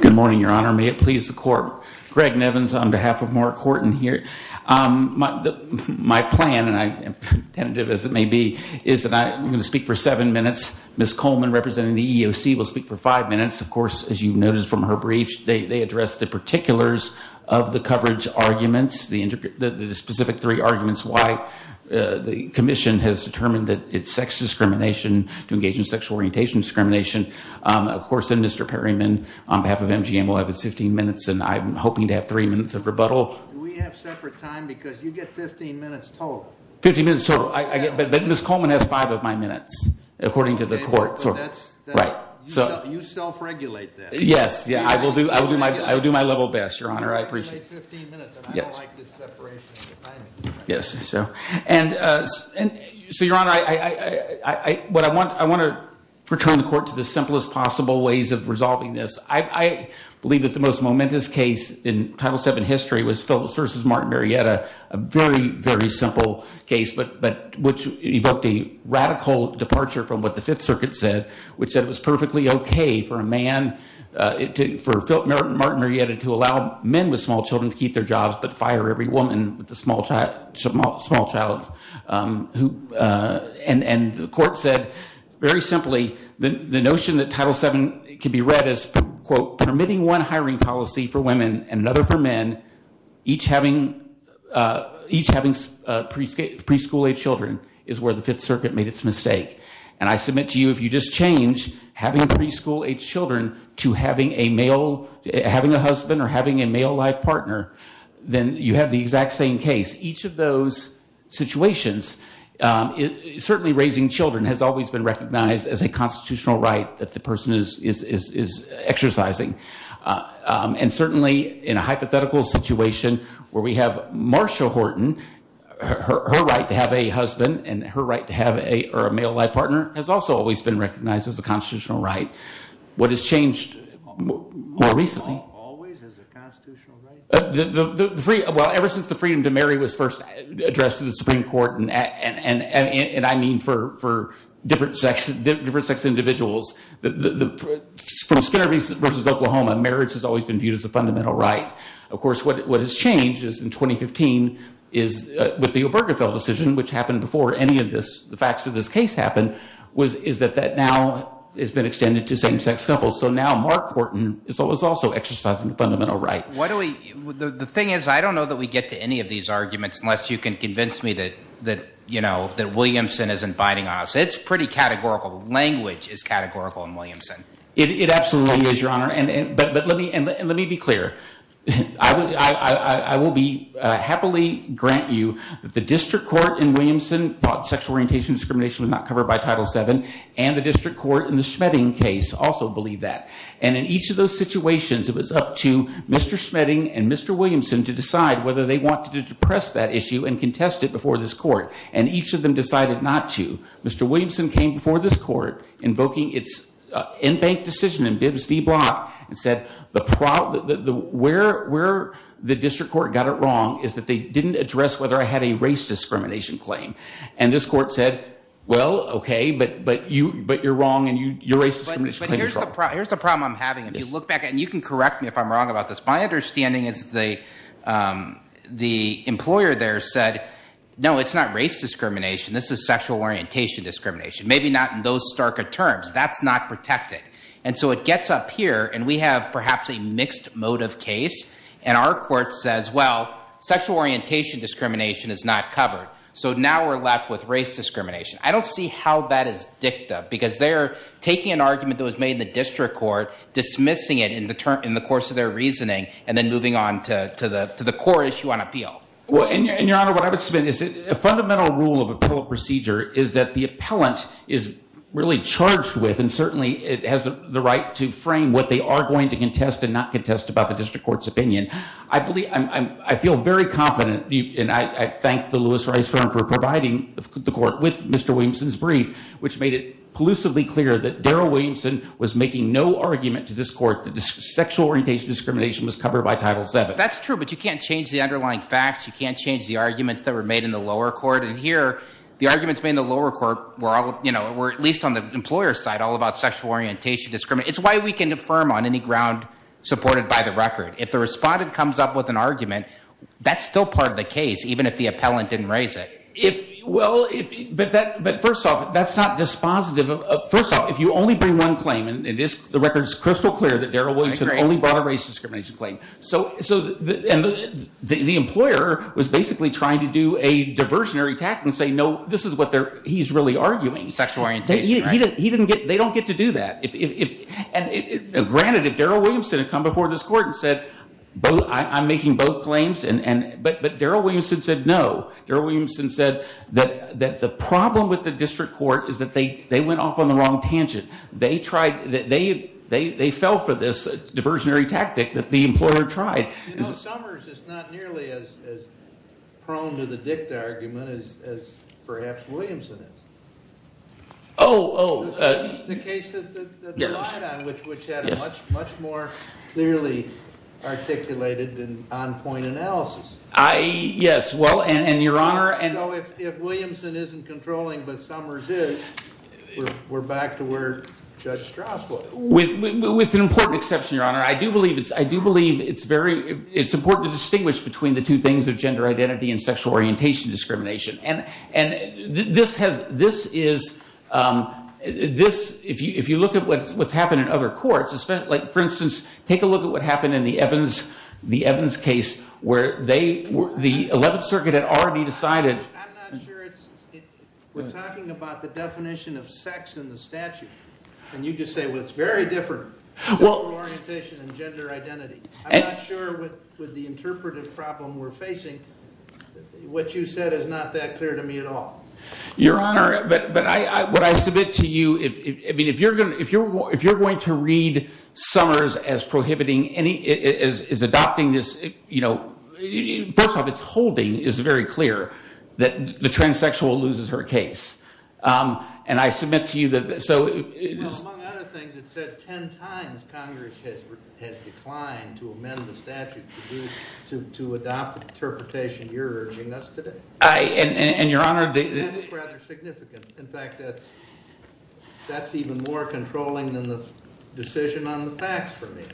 Good morning, your honor. May it please the court. Greg Nevins on behalf of Mark Horton here. My plan, and I'm tentative as it may be, is that I'm going to speak for seven minutes. Ms. Coleman, representing the EEOC, will speak for five minutes. Of course, as you've noticed from her briefs, they address the particulars of the coverage arguments, the specific three arguments why the commission has determined that it's sex discrimination to engage in sexual orientation discrimination. Of course, then Mr. Perryman, on behalf of MGM, will have his 15 minutes, and I'm hoping to have three minutes of rebuttal. Do we have separate time? Because you get 15 minutes total. 15 minutes total. But Ms. Coleman has five of my minutes, according to the court. You self-regulate that. Yes, I will do my level best, your honor. I appreciate it. You self-regulate 15 minutes, and I don't like this separation. So, your honor, I want to return the court to the simplest possible ways of resolving this. I believe that the most momentous case in Title VII history was Phillips v. Martin Marietta, a very, very simple case, but which evoked a radical departure from what the Fifth Circuit said, which said it was perfectly okay for Martin Marietta to allow men with small children to keep their jobs but fire every woman with a small child. And the court said, very simply, the notion that Title VII can be read as, quote, permitting one hiring policy for women and another for men, each having preschool-age children, is where the Fifth Circuit made its mistake. And I submit to you, if you just change having preschool-age children to having a husband or having a male life partner, then you have the exact same case. Each of those situations, certainly raising children has always been recognized as a constitutional right that the person is exercising. And certainly in a hypothetical situation where we have Marsha Horton, her right to have a husband and her right to have a male life partner has also always been recognized as a constitutional right. What has changed more recently... Not always as a constitutional right. Well, ever since the freedom to marry was first addressed in the Supreme Court, and I mean for different sex individuals, from Skidder v. Oklahoma, marriage has always been viewed as a fundamental right. Of course, what has changed is in 2015 with the Obergefell decision, which happened before any of the facts of this case happened, is that that now has been extended to same-sex couples. So now Marsha Horton is also exercising a fundamental right. The thing is, I don't know that we get to any of these arguments unless you can convince me that Williamson isn't binding on us. It's pretty categorical. Language is categorical in Williamson. It absolutely is, Your Honor. But let me be clear. I will happily grant you that the district court in Williamson thought sexual orientation discrimination was not covered by Title VII, and the district court in the Schmetting case also believed that. And in each of those situations, it was up to Mr. Schmetting and Mr. Williamson to decide whether they wanted to depress that issue and contest it before this court. And each of them decided not to. Mr. Williamson came before this court invoking its in-bank decision in Bibbs v. Block and said where the district court got it wrong is that they didn't address whether I had a race discrimination claim. And this court said, well, okay, but you're wrong and your race discrimination claim is wrong. But here's the problem I'm having. If you look back at it, and you can correct me if I'm wrong about this, my understanding is the employer there said, no, it's not race discrimination. This is sexual orientation discrimination. Maybe not in those starker terms. That's not protected. And so it gets up here, and we have perhaps a mixed motive case, and our court says, well, sexual orientation discrimination is not covered. So now we're left with race discrimination. I don't see how that is dicta, because they're taking an argument that was made in the district court, dismissing it in the course of their reasoning, and then moving on to the core issue on appeal. And, Your Honor, what I would submit is a fundamental rule of appellate procedure is that the appellant is really charged with, and certainly has the right to frame what they are going to contest and not contest about the district court's opinion. I feel very confident, and I thank the Lewis Rice firm for providing the court with Mr. Williamson's brief, which made it pollusively clear that Darrell Williamson was making no argument to this court that sexual orientation discrimination was covered by Title VII. That's true, but you can't change the underlying facts. You can't change the arguments that were made in the lower court. And here, the arguments made in the lower court were, at least on the employer's side, all about sexual orientation discrimination. It's why we can affirm on any ground supported by the record. If the respondent comes up with an argument, that's still part of the case, even if the appellant didn't raise it. Well, but first off, that's not dispositive. First off, if you only bring one claim, and the record is crystal clear that Darrell Williamson only brought a race discrimination claim. So the employer was basically trying to do a diversionary attack and say, no, this is what he's really arguing. Sexual orientation, right. They don't get to do that. Granted, if Darrell Williamson had come before this court and said, I'm making both claims, but Darrell Williamson said no. Darrell Williamson said that the problem with the district court is that they went off on the wrong tangent. They fell for this diversionary tactic that the employer tried. You know, Summers is not nearly as prone to the dicta argument as perhaps Williamson is. Oh, oh. The case that you relied on, which had a much more clearly articulated and on-point analysis. Yes, well, and your Honor. So if Williamson isn't controlling, but Summers is, we're back to where Judge Strauss was. With an important exception, your Honor. I do believe it's very important to distinguish between the two things of gender identity and sexual orientation discrimination. And this is, if you look at what's happened in other courts, like for instance, take a look at what happened in the Evans case where the 11th Circuit had already decided. I'm not sure we're talking about the definition of sex in the statute. And you just say, well, it's very different. Sexual orientation and gender identity. I'm not sure with the interpretive problem we're facing, what you said is not that clear to me at all. Your Honor, but what I submit to you, I mean, if you're going to read Summers as prohibiting any, as adopting this, you know, first off, its holding is very clear that the transsexual loses her case. And I submit to you that, so. Well, among other things, it said 10 times Congress has declined to amend the statute to adopt the interpretation you're urging us today. And, Your Honor. That's rather significant. In fact, that's even more controlling than the decision on the facts for me.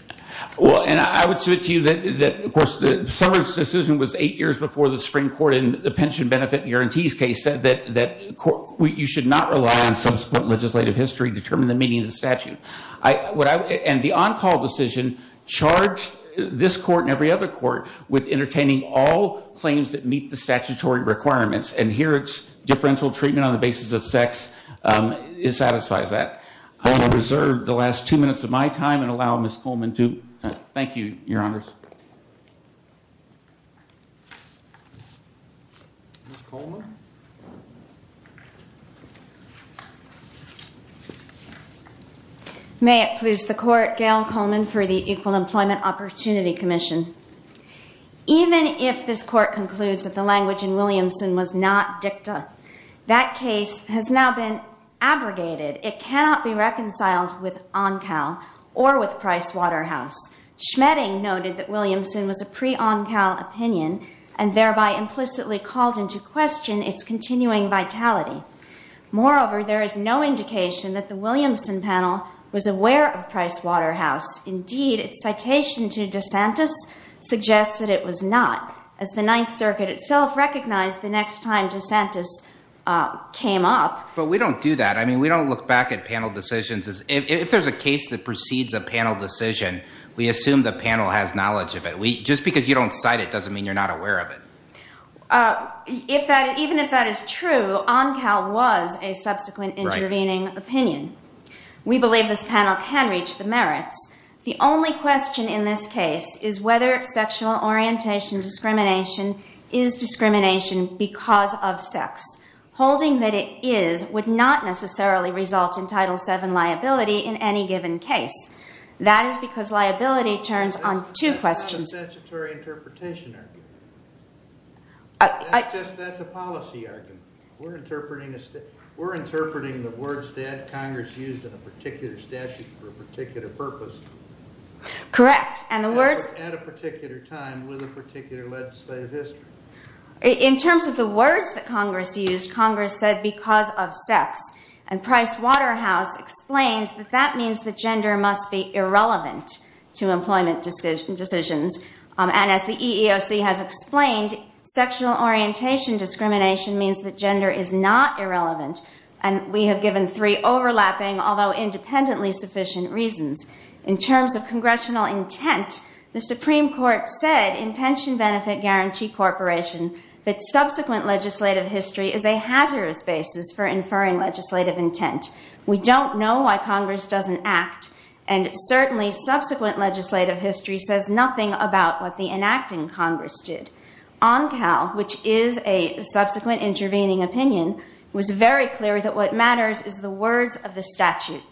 Well, and I would submit to you that, of course, Summers' decision was eight years before the Supreme Court in the pension benefit guarantees case said that you should not rely on subsequent legislative history to determine the meaning of the statute. And the on-call decision charged this court and every other court with entertaining all claims that meet the statutory requirements. And here it's differential treatment on the basis of sex. It satisfies that. I will reserve the last two minutes of my time and allow Ms. Coleman to. Thank you, Your Honors. Ms. Coleman? May it please the court. Gail Coleman for the Equal Employment Opportunity Commission. Even if this court concludes that the language in Williamson was not dicta, that case has now been abrogated. It cannot be reconciled with on-call or with Price Waterhouse. Schmetting noted that Williamson was a pre-on-call opinion and thereby implicitly called into question its continuing vitality. Moreover, there is no indication that the Williamson panel was aware of Price Waterhouse. Indeed, its citation to DeSantis suggests that it was not, as the Ninth Circuit itself recognized the next time DeSantis came up. But we don't do that. I mean, we don't look back at panel decisions. If there's a case that precedes a panel decision, we assume the panel has knowledge of it. Just because you don't cite it doesn't mean you're not aware of it. Even if that is true, on-call was a subsequent intervening opinion. We believe this panel can reach the merits. The only question in this case is whether sexual orientation discrimination is discrimination because of sex. Holding that it is would not necessarily result in Title VII liability in any given case. That is because liability turns on two questions. That's a statutory interpretation argument. That's a policy argument. We're interpreting the words that Congress used in a particular statute for a particular purpose. Correct. At a particular time with a particular legislative history. In terms of the words that Congress used, Congress said because of sex. And Price Waterhouse explains that that means that gender must be irrelevant to employment decisions. And as the EEOC has explained, sexual orientation discrimination means that gender is not irrelevant. And we have given three overlapping, although independently sufficient, reasons. In terms of congressional intent, the Supreme Court said in Pension Benefit Guarantee Corporation, that subsequent legislative history is a hazardous basis for inferring legislative intent. We don't know why Congress doesn't act. And certainly subsequent legislative history says nothing about what the enacting Congress did. On-call, which is a subsequent intervening opinion, was very clear that what matters is the words of the statute.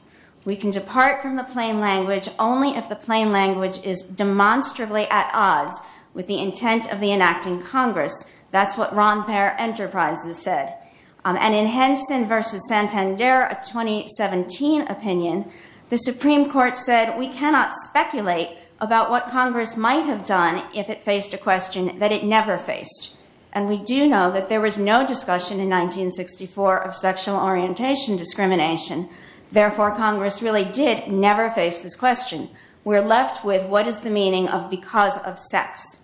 We can depart from the plain language only if the plain language is demonstrably at odds with the intent of the enacting Congress. That's what Ron Pair Enterprises said. And in Henson v. Santander, a 2017 opinion, the Supreme Court said we cannot speculate about what Congress might have done if it faced a question that it never faced. And we do know that there was no discussion in 1964 of sexual orientation discrimination. Therefore, Congress really did never face this question. We're left with what is the meaning of because of sex.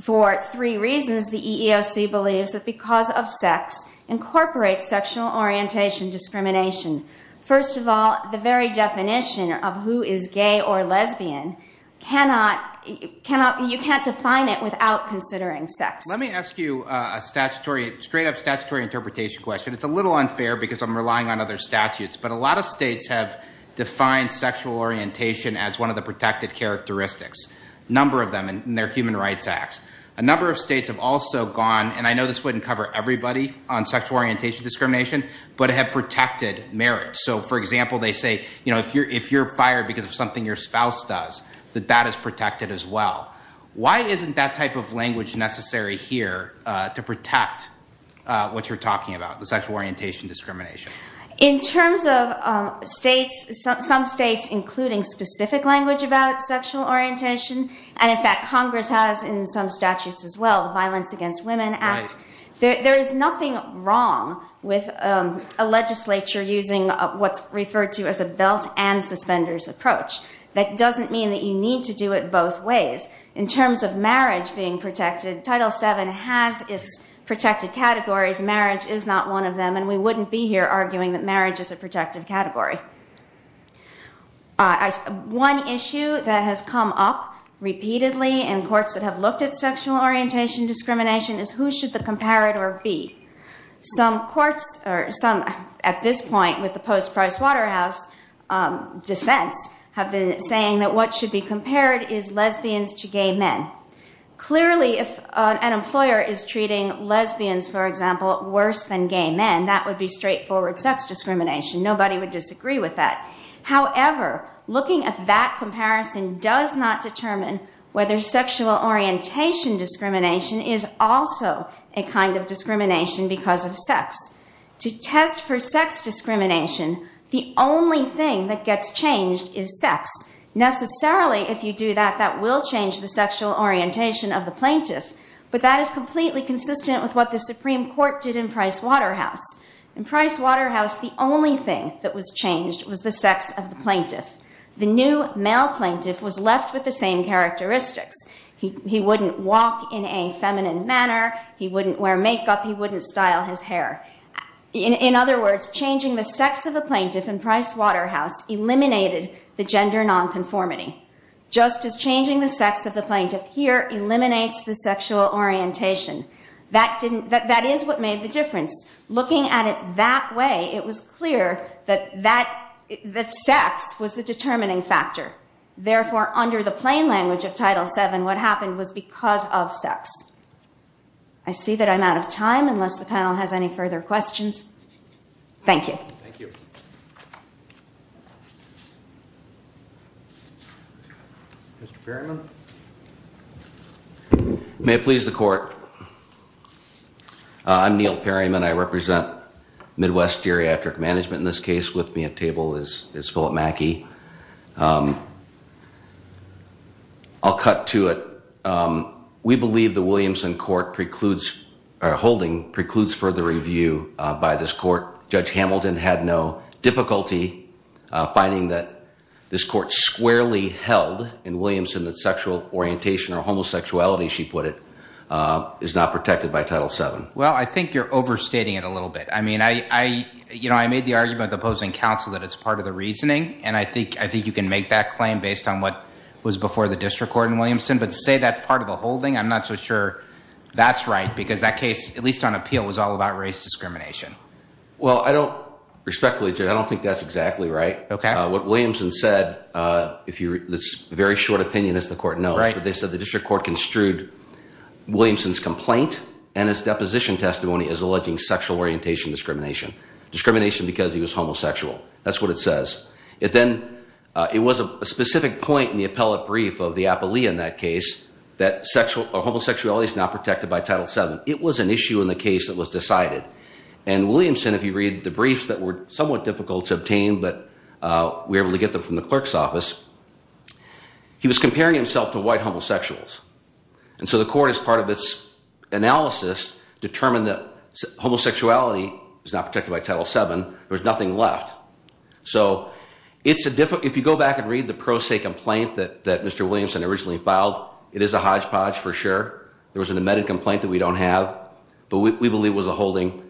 For three reasons, the EEOC believes that because of sex incorporates sexual orientation discrimination. First of all, the very definition of who is gay or lesbian cannot, you can't define it without considering sex. Let me ask you a statutory, straight up statutory interpretation question. It's a little unfair because I'm relying on other statutes. But a lot of states have defined sexual orientation as one of the protected characteristics, a number of them in their human rights acts. A number of states have also gone, and I know this wouldn't cover everybody on sexual orientation discrimination, but have protected marriage. So, for example, they say, you know, if you're fired because of something your spouse does, that that is protected as well. Why isn't that type of language necessary here to protect what you're talking about, the sexual orientation discrimination? In terms of states, some states, including specific language about sexual orientation. And in fact, Congress has in some statutes as well, the Violence Against Women Act. There is nothing wrong with a legislature using what's referred to as a belt and suspenders approach. That doesn't mean that you need to do it both ways. In terms of marriage being protected, Title VII has its protected categories. Marriage is not one of them, and we wouldn't be here arguing that marriage is a protected category. One issue that has come up repeatedly in courts that have looked at sexual orientation discrimination is who should the comparator be? Some courts, or some at this point with the post-Price Waterhouse dissents, have been saying that what should be compared is lesbians to gay men. Clearly, if an employer is treating lesbians, for example, worse than gay men, that would be straightforward sex discrimination. Nobody would disagree with that. However, looking at that comparison does not determine whether sexual orientation discrimination is also a kind of discrimination because of sex. To test for sex discrimination, the only thing that gets changed is sex. Necessarily, if you do that, that will change the sexual orientation of the plaintiff. But that is completely consistent with what the Supreme Court did in Price Waterhouse. In Price Waterhouse, the only thing that was changed was the sex of the plaintiff. The new male plaintiff was left with the same characteristics. He wouldn't walk in a feminine manner. He wouldn't wear makeup. He wouldn't style his hair. In other words, changing the sex of the plaintiff in Price Waterhouse eliminated the gender nonconformity. Just as changing the sex of the plaintiff here eliminates the sexual orientation. That is what made the difference. Looking at it that way, it was clear that sex was the determining factor. Therefore, under the plain language of Title VII, what happened was because of sex. I see that I'm out of time, unless the panel has any further questions. Thank you. Thank you. Mr. Perryman? May it please the Court. I'm Neil Perryman. I represent Midwest Geriatric Management. In this case, with me at table is Philip Mackey. I'll cut to it. We believe the Williamson Court holding precludes further review by this Court. Judge Hamilton had no difficulty finding that this Court squarely held in Williamson that sexual orientation or homosexuality, she put it, is not protected by Title VII. Well, I think you're overstating it a little bit. I mean, I made the argument with the opposing counsel that it's part of the reasoning. And I think you can make that claim based on what was before the district court in Williamson. But to say that's part of the holding, I'm not so sure that's right because that case, at least on appeal, was all about race discrimination. Well, I don't, respectfully, Judge, I don't think that's exactly right. Okay. What Williamson said, it's a very short opinion, as the Court knows. Right. But they said the district court construed Williamson's complaint and his deposition testimony as alleging sexual orientation discrimination. Discrimination because he was homosexual. That's what it says. It then, it was a specific point in the appellate brief of the appellee in that case that homosexuality is not protected by Title VII. It was an issue in the case that was decided. And Williamson, if you read the briefs that were somewhat difficult to obtain, but we were able to get them from the clerk's office, he was comparing himself to white homosexuals. And so the Court, as part of its analysis, determined that homosexuality is not protected by Title VII. There was nothing left. So it's a difficult, if you go back and read the pro se complaint that Mr. Williamson originally filed, it is a hodgepodge for sure. There was an amended complaint that we don't have. But we believe it was a holding.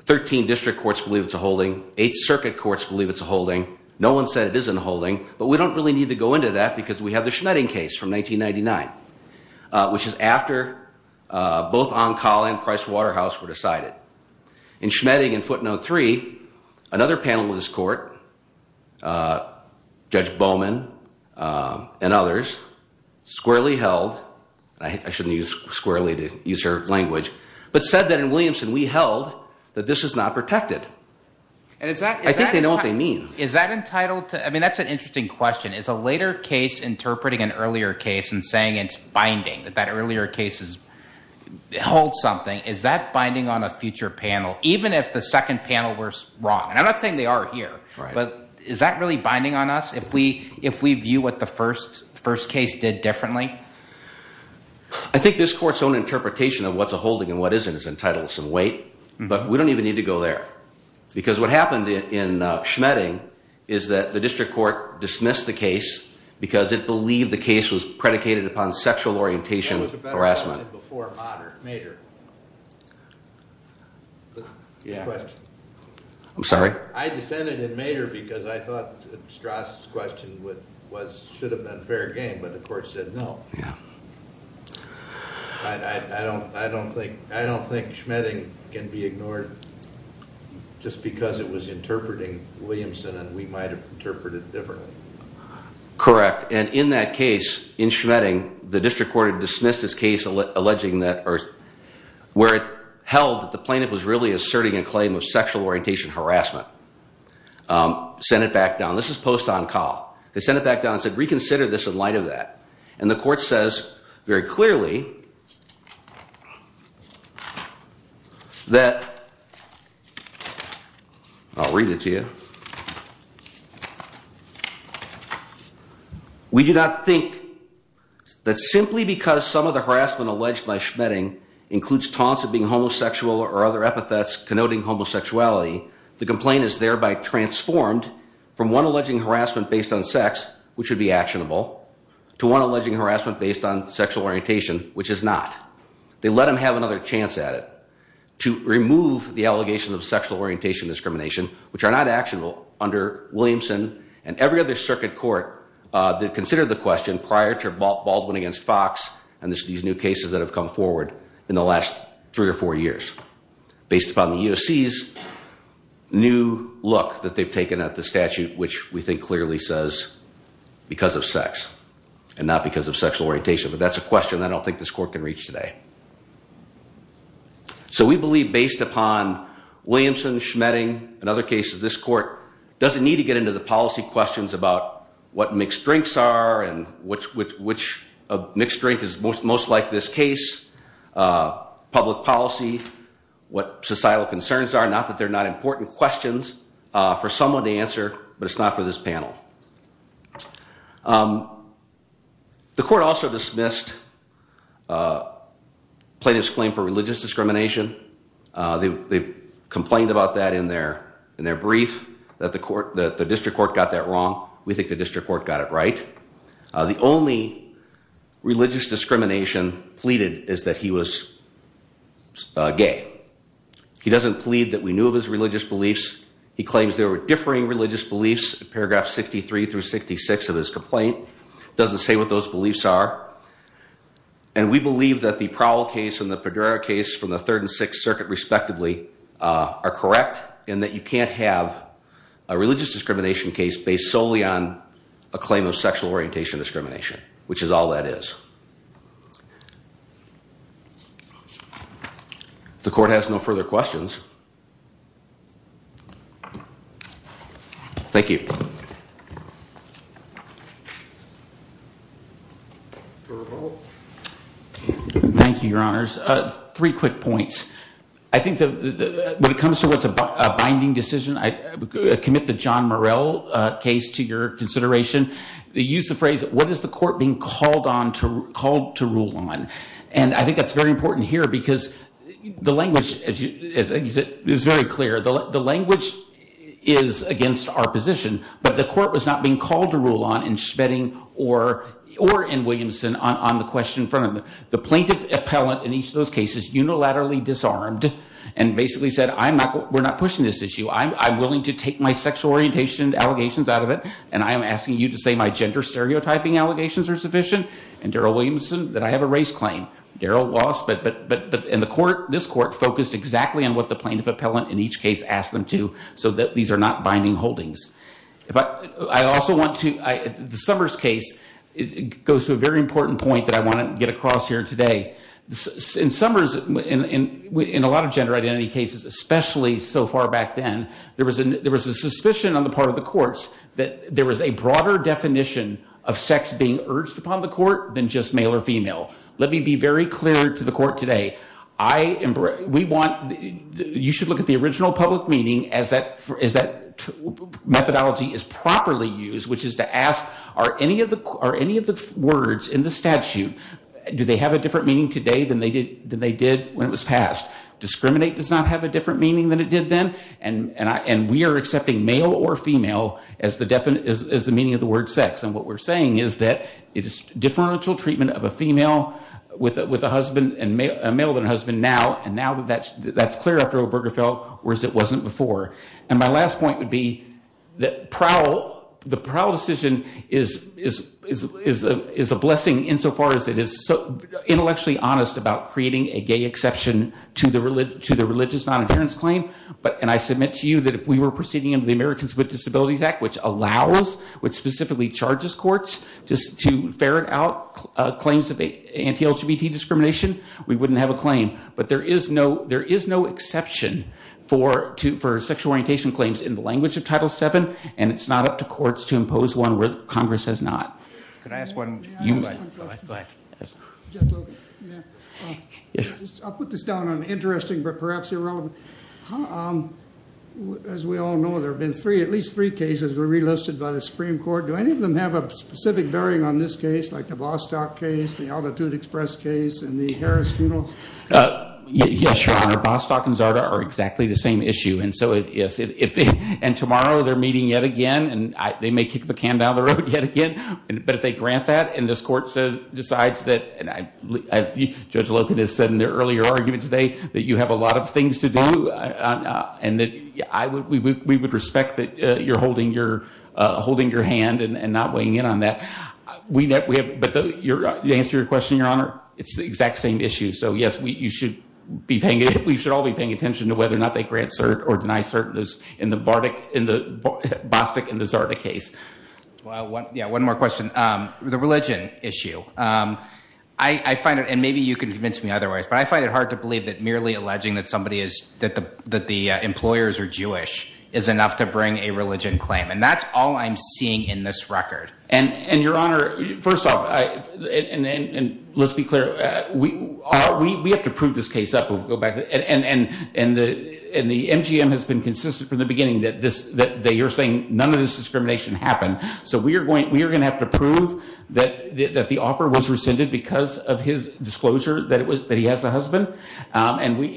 Thirteen district courts believe it's a holding. Eight circuit courts believe it's a holding. No one said it isn't a holding. But we don't really need to go into that because we have the Schmetting case from 1999, which is after both Onkala and Price Waterhouse were decided. In Schmetting in footnote three, another panel of this Court, Judge Bowman and others, squarely held, I shouldn't use squarely to use her language, but said that in Williamson we held that this is not protected. I think they know what they mean. Is that entitled to, I mean, that's an interesting question. Is a later case interpreting an earlier case and saying it's binding, that that earlier case holds something, is that binding on a future panel, even if the second panel were wrong? And I'm not saying they are here. But is that really binding on us if we view what the first case did differently? I think this Court's own interpretation of what's a holding and what isn't is entitled to some weight. But we don't even need to go there. Because what happened in Schmetting is that the district court dismissed the case because it believed the case was predicated upon sexual orientation harassment. I'm sorry? I dissented in Mader because I thought Strauss' question should have been fair game, but the Court said no. I don't think Schmetting can be ignored just because it was interpreting Williamson and we might have interpreted it differently. Correct. And in that case, in Schmetting, the district court had dismissed this case alleging that, or where it held that the plaintiff was really asserting a claim of sexual orientation harassment. Sent it back down. This is post-on-call. They sent it back down and said reconsider this in light of that. And the Court says very clearly that, I'll read it to you. We do not think that simply because some of the harassment alleged by Schmetting includes taunts of being homosexual or other epithets connoting homosexuality, the complaint is thereby transformed from one alleging harassment based on sex, which would be actionable, to one alleging harassment based on sexual orientation, which is not. They let him have another chance at it to remove the allegations of sexual orientation discrimination, which are not actionable under Williamson and every other circuit court that considered the question prior to Baldwin against Fox and these new cases that have come forward in the last three or four years. Based upon the U.S.C.'s new look that they've taken at the statute, which we think clearly says because of sex and not because of sexual orientation. But that's a question I don't think this Court can reach today. So we believe based upon Williamson, Schmetting, and other cases, this Court doesn't need to get into the policy questions about what mixed drinks are and which mixed drink is most like this case, public policy, what societal concerns are, not that they're not important questions for someone to answer, but it's not for this panel. The Court also dismissed plaintiff's claim for religious discrimination. They complained about that in their brief, that the District Court got that wrong. We think the District Court got it right. The only religious discrimination pleaded is that he was gay. He doesn't plead that we knew of his religious beliefs. He claims there were differing religious beliefs. Paragraph 63 through 66 of his complaint doesn't say what those beliefs are. And we believe that the Prowell case and the Padrera case from the Third and Sixth Circuit respectively are correct in that you can't have a religious discrimination case based solely on a claim of sexual orientation discrimination, which is all that is. The Court has no further questions. Thank you. Thank you, Your Honors. Three quick points. I think when it comes to what's a binding decision, I commit the John Murrell case to your consideration. Use the phrase, what is the Court being called to rule on? And I think that's very important here because the language is very clear. The language is against our position, but the Court was not being called to rule on in Schvetting or in Williamson on the question in front of them. The plaintiff appellant in each of those cases unilaterally disarmed and basically said, we're not pushing this issue. I'm willing to take my sexual orientation allegations out of it, and I am asking you to say my gender stereotyping allegations are sufficient, and Darryl Williamson, that I have a race claim. Darryl lost, but this Court focused exactly on what the plaintiff appellant in each case asked them to so that these are not binding holdings. I also want to, the Summers case goes to a very important point that I want to get across here today. In Summers, in a lot of gender identity cases, especially so far back then, there was a suspicion on the part of the courts that there was a broader definition of sex being urged upon the court than just male or female. Let me be very clear to the Court today. We want, you should look at the original public meeting as that methodology is properly used, which is to ask, are any of the words in the statute, do they have a different meaning today than they did when it was passed? Discriminate does not have a different meaning than it did then, and we are accepting male or female as the meaning of the word sex. What we're saying is that it is differential treatment of a female with a husband, a male with a husband now, and now that's clear after Obergefell, whereas it wasn't before. My last point would be that the Prowl decision is a blessing insofar as it is intellectually honest about creating a gay exception to the religious nonadherence claim, and I submit to you that if we were proceeding under the Americans with Disabilities Act, which allows, which specifically charges courts to ferret out claims of anti-LGBT discrimination, we wouldn't have a claim. But there is no exception for sexual orientation claims in the language of Title VII, and it's not up to courts to impose one where Congress has not. Can I ask one? Go ahead. I'll put this down on interesting but perhaps irrelevant. As we all know, there have been at least three cases that were relisted by the Supreme Court. Do any of them have a specific bearing on this case, like the Bostock case, the Altitude Express case, and the Harris funeral? Yes, Your Honor. Bostock and Zarda are exactly the same issue, and tomorrow they're meeting yet again, and they may kick the can down the road yet again, but if they grant that and this court decides that, and Judge Loken has said in the earlier argument today, that you have a lot of things to do and that we would respect that you're holding your hand and not weighing in on that. But to answer your question, Your Honor, it's the exact same issue. So, yes, we should all be paying attention to whether or not they grant cert or deny cert in the Bostock and the Zarda case. Yeah, one more question. The religion issue, I find it, and maybe you can convince me otherwise, but I find it hard to believe that merely alleging that the employers are Jewish is enough to bring a religion claim, and that's all I'm seeing in this record. And, Your Honor, first off, and let's be clear, we have to prove this case up. And the MGM has been consistent from the beginning that you're saying none of this discrimination happened. So we are going to have to prove that the offer was rescinded because of his disclosure that he has a husband. And we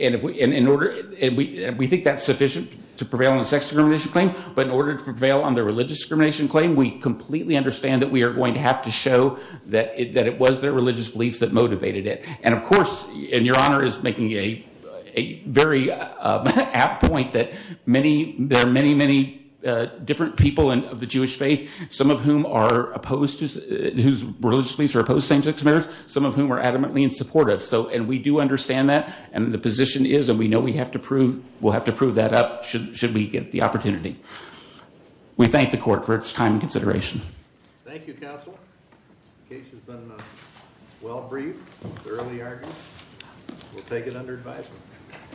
think that's sufficient to prevail on the sex discrimination claim, but in order to prevail on the religious discrimination claim, we completely understand that we are going to have to show that it was their religious beliefs that motivated it. And, of course, and Your Honor is making a very apt point that there are many, many different people of the Jewish faith, some of whom are opposed, whose religious beliefs are opposed to same-sex marriage, some of whom are adamantly insupportive. And we do understand that, and the position is, and we know we have to prove that up should we get the opportunity. We thank the court for its time and consideration. Thank you, counsel. The case has been well-briefed, thoroughly argued. We'll take it under advisement.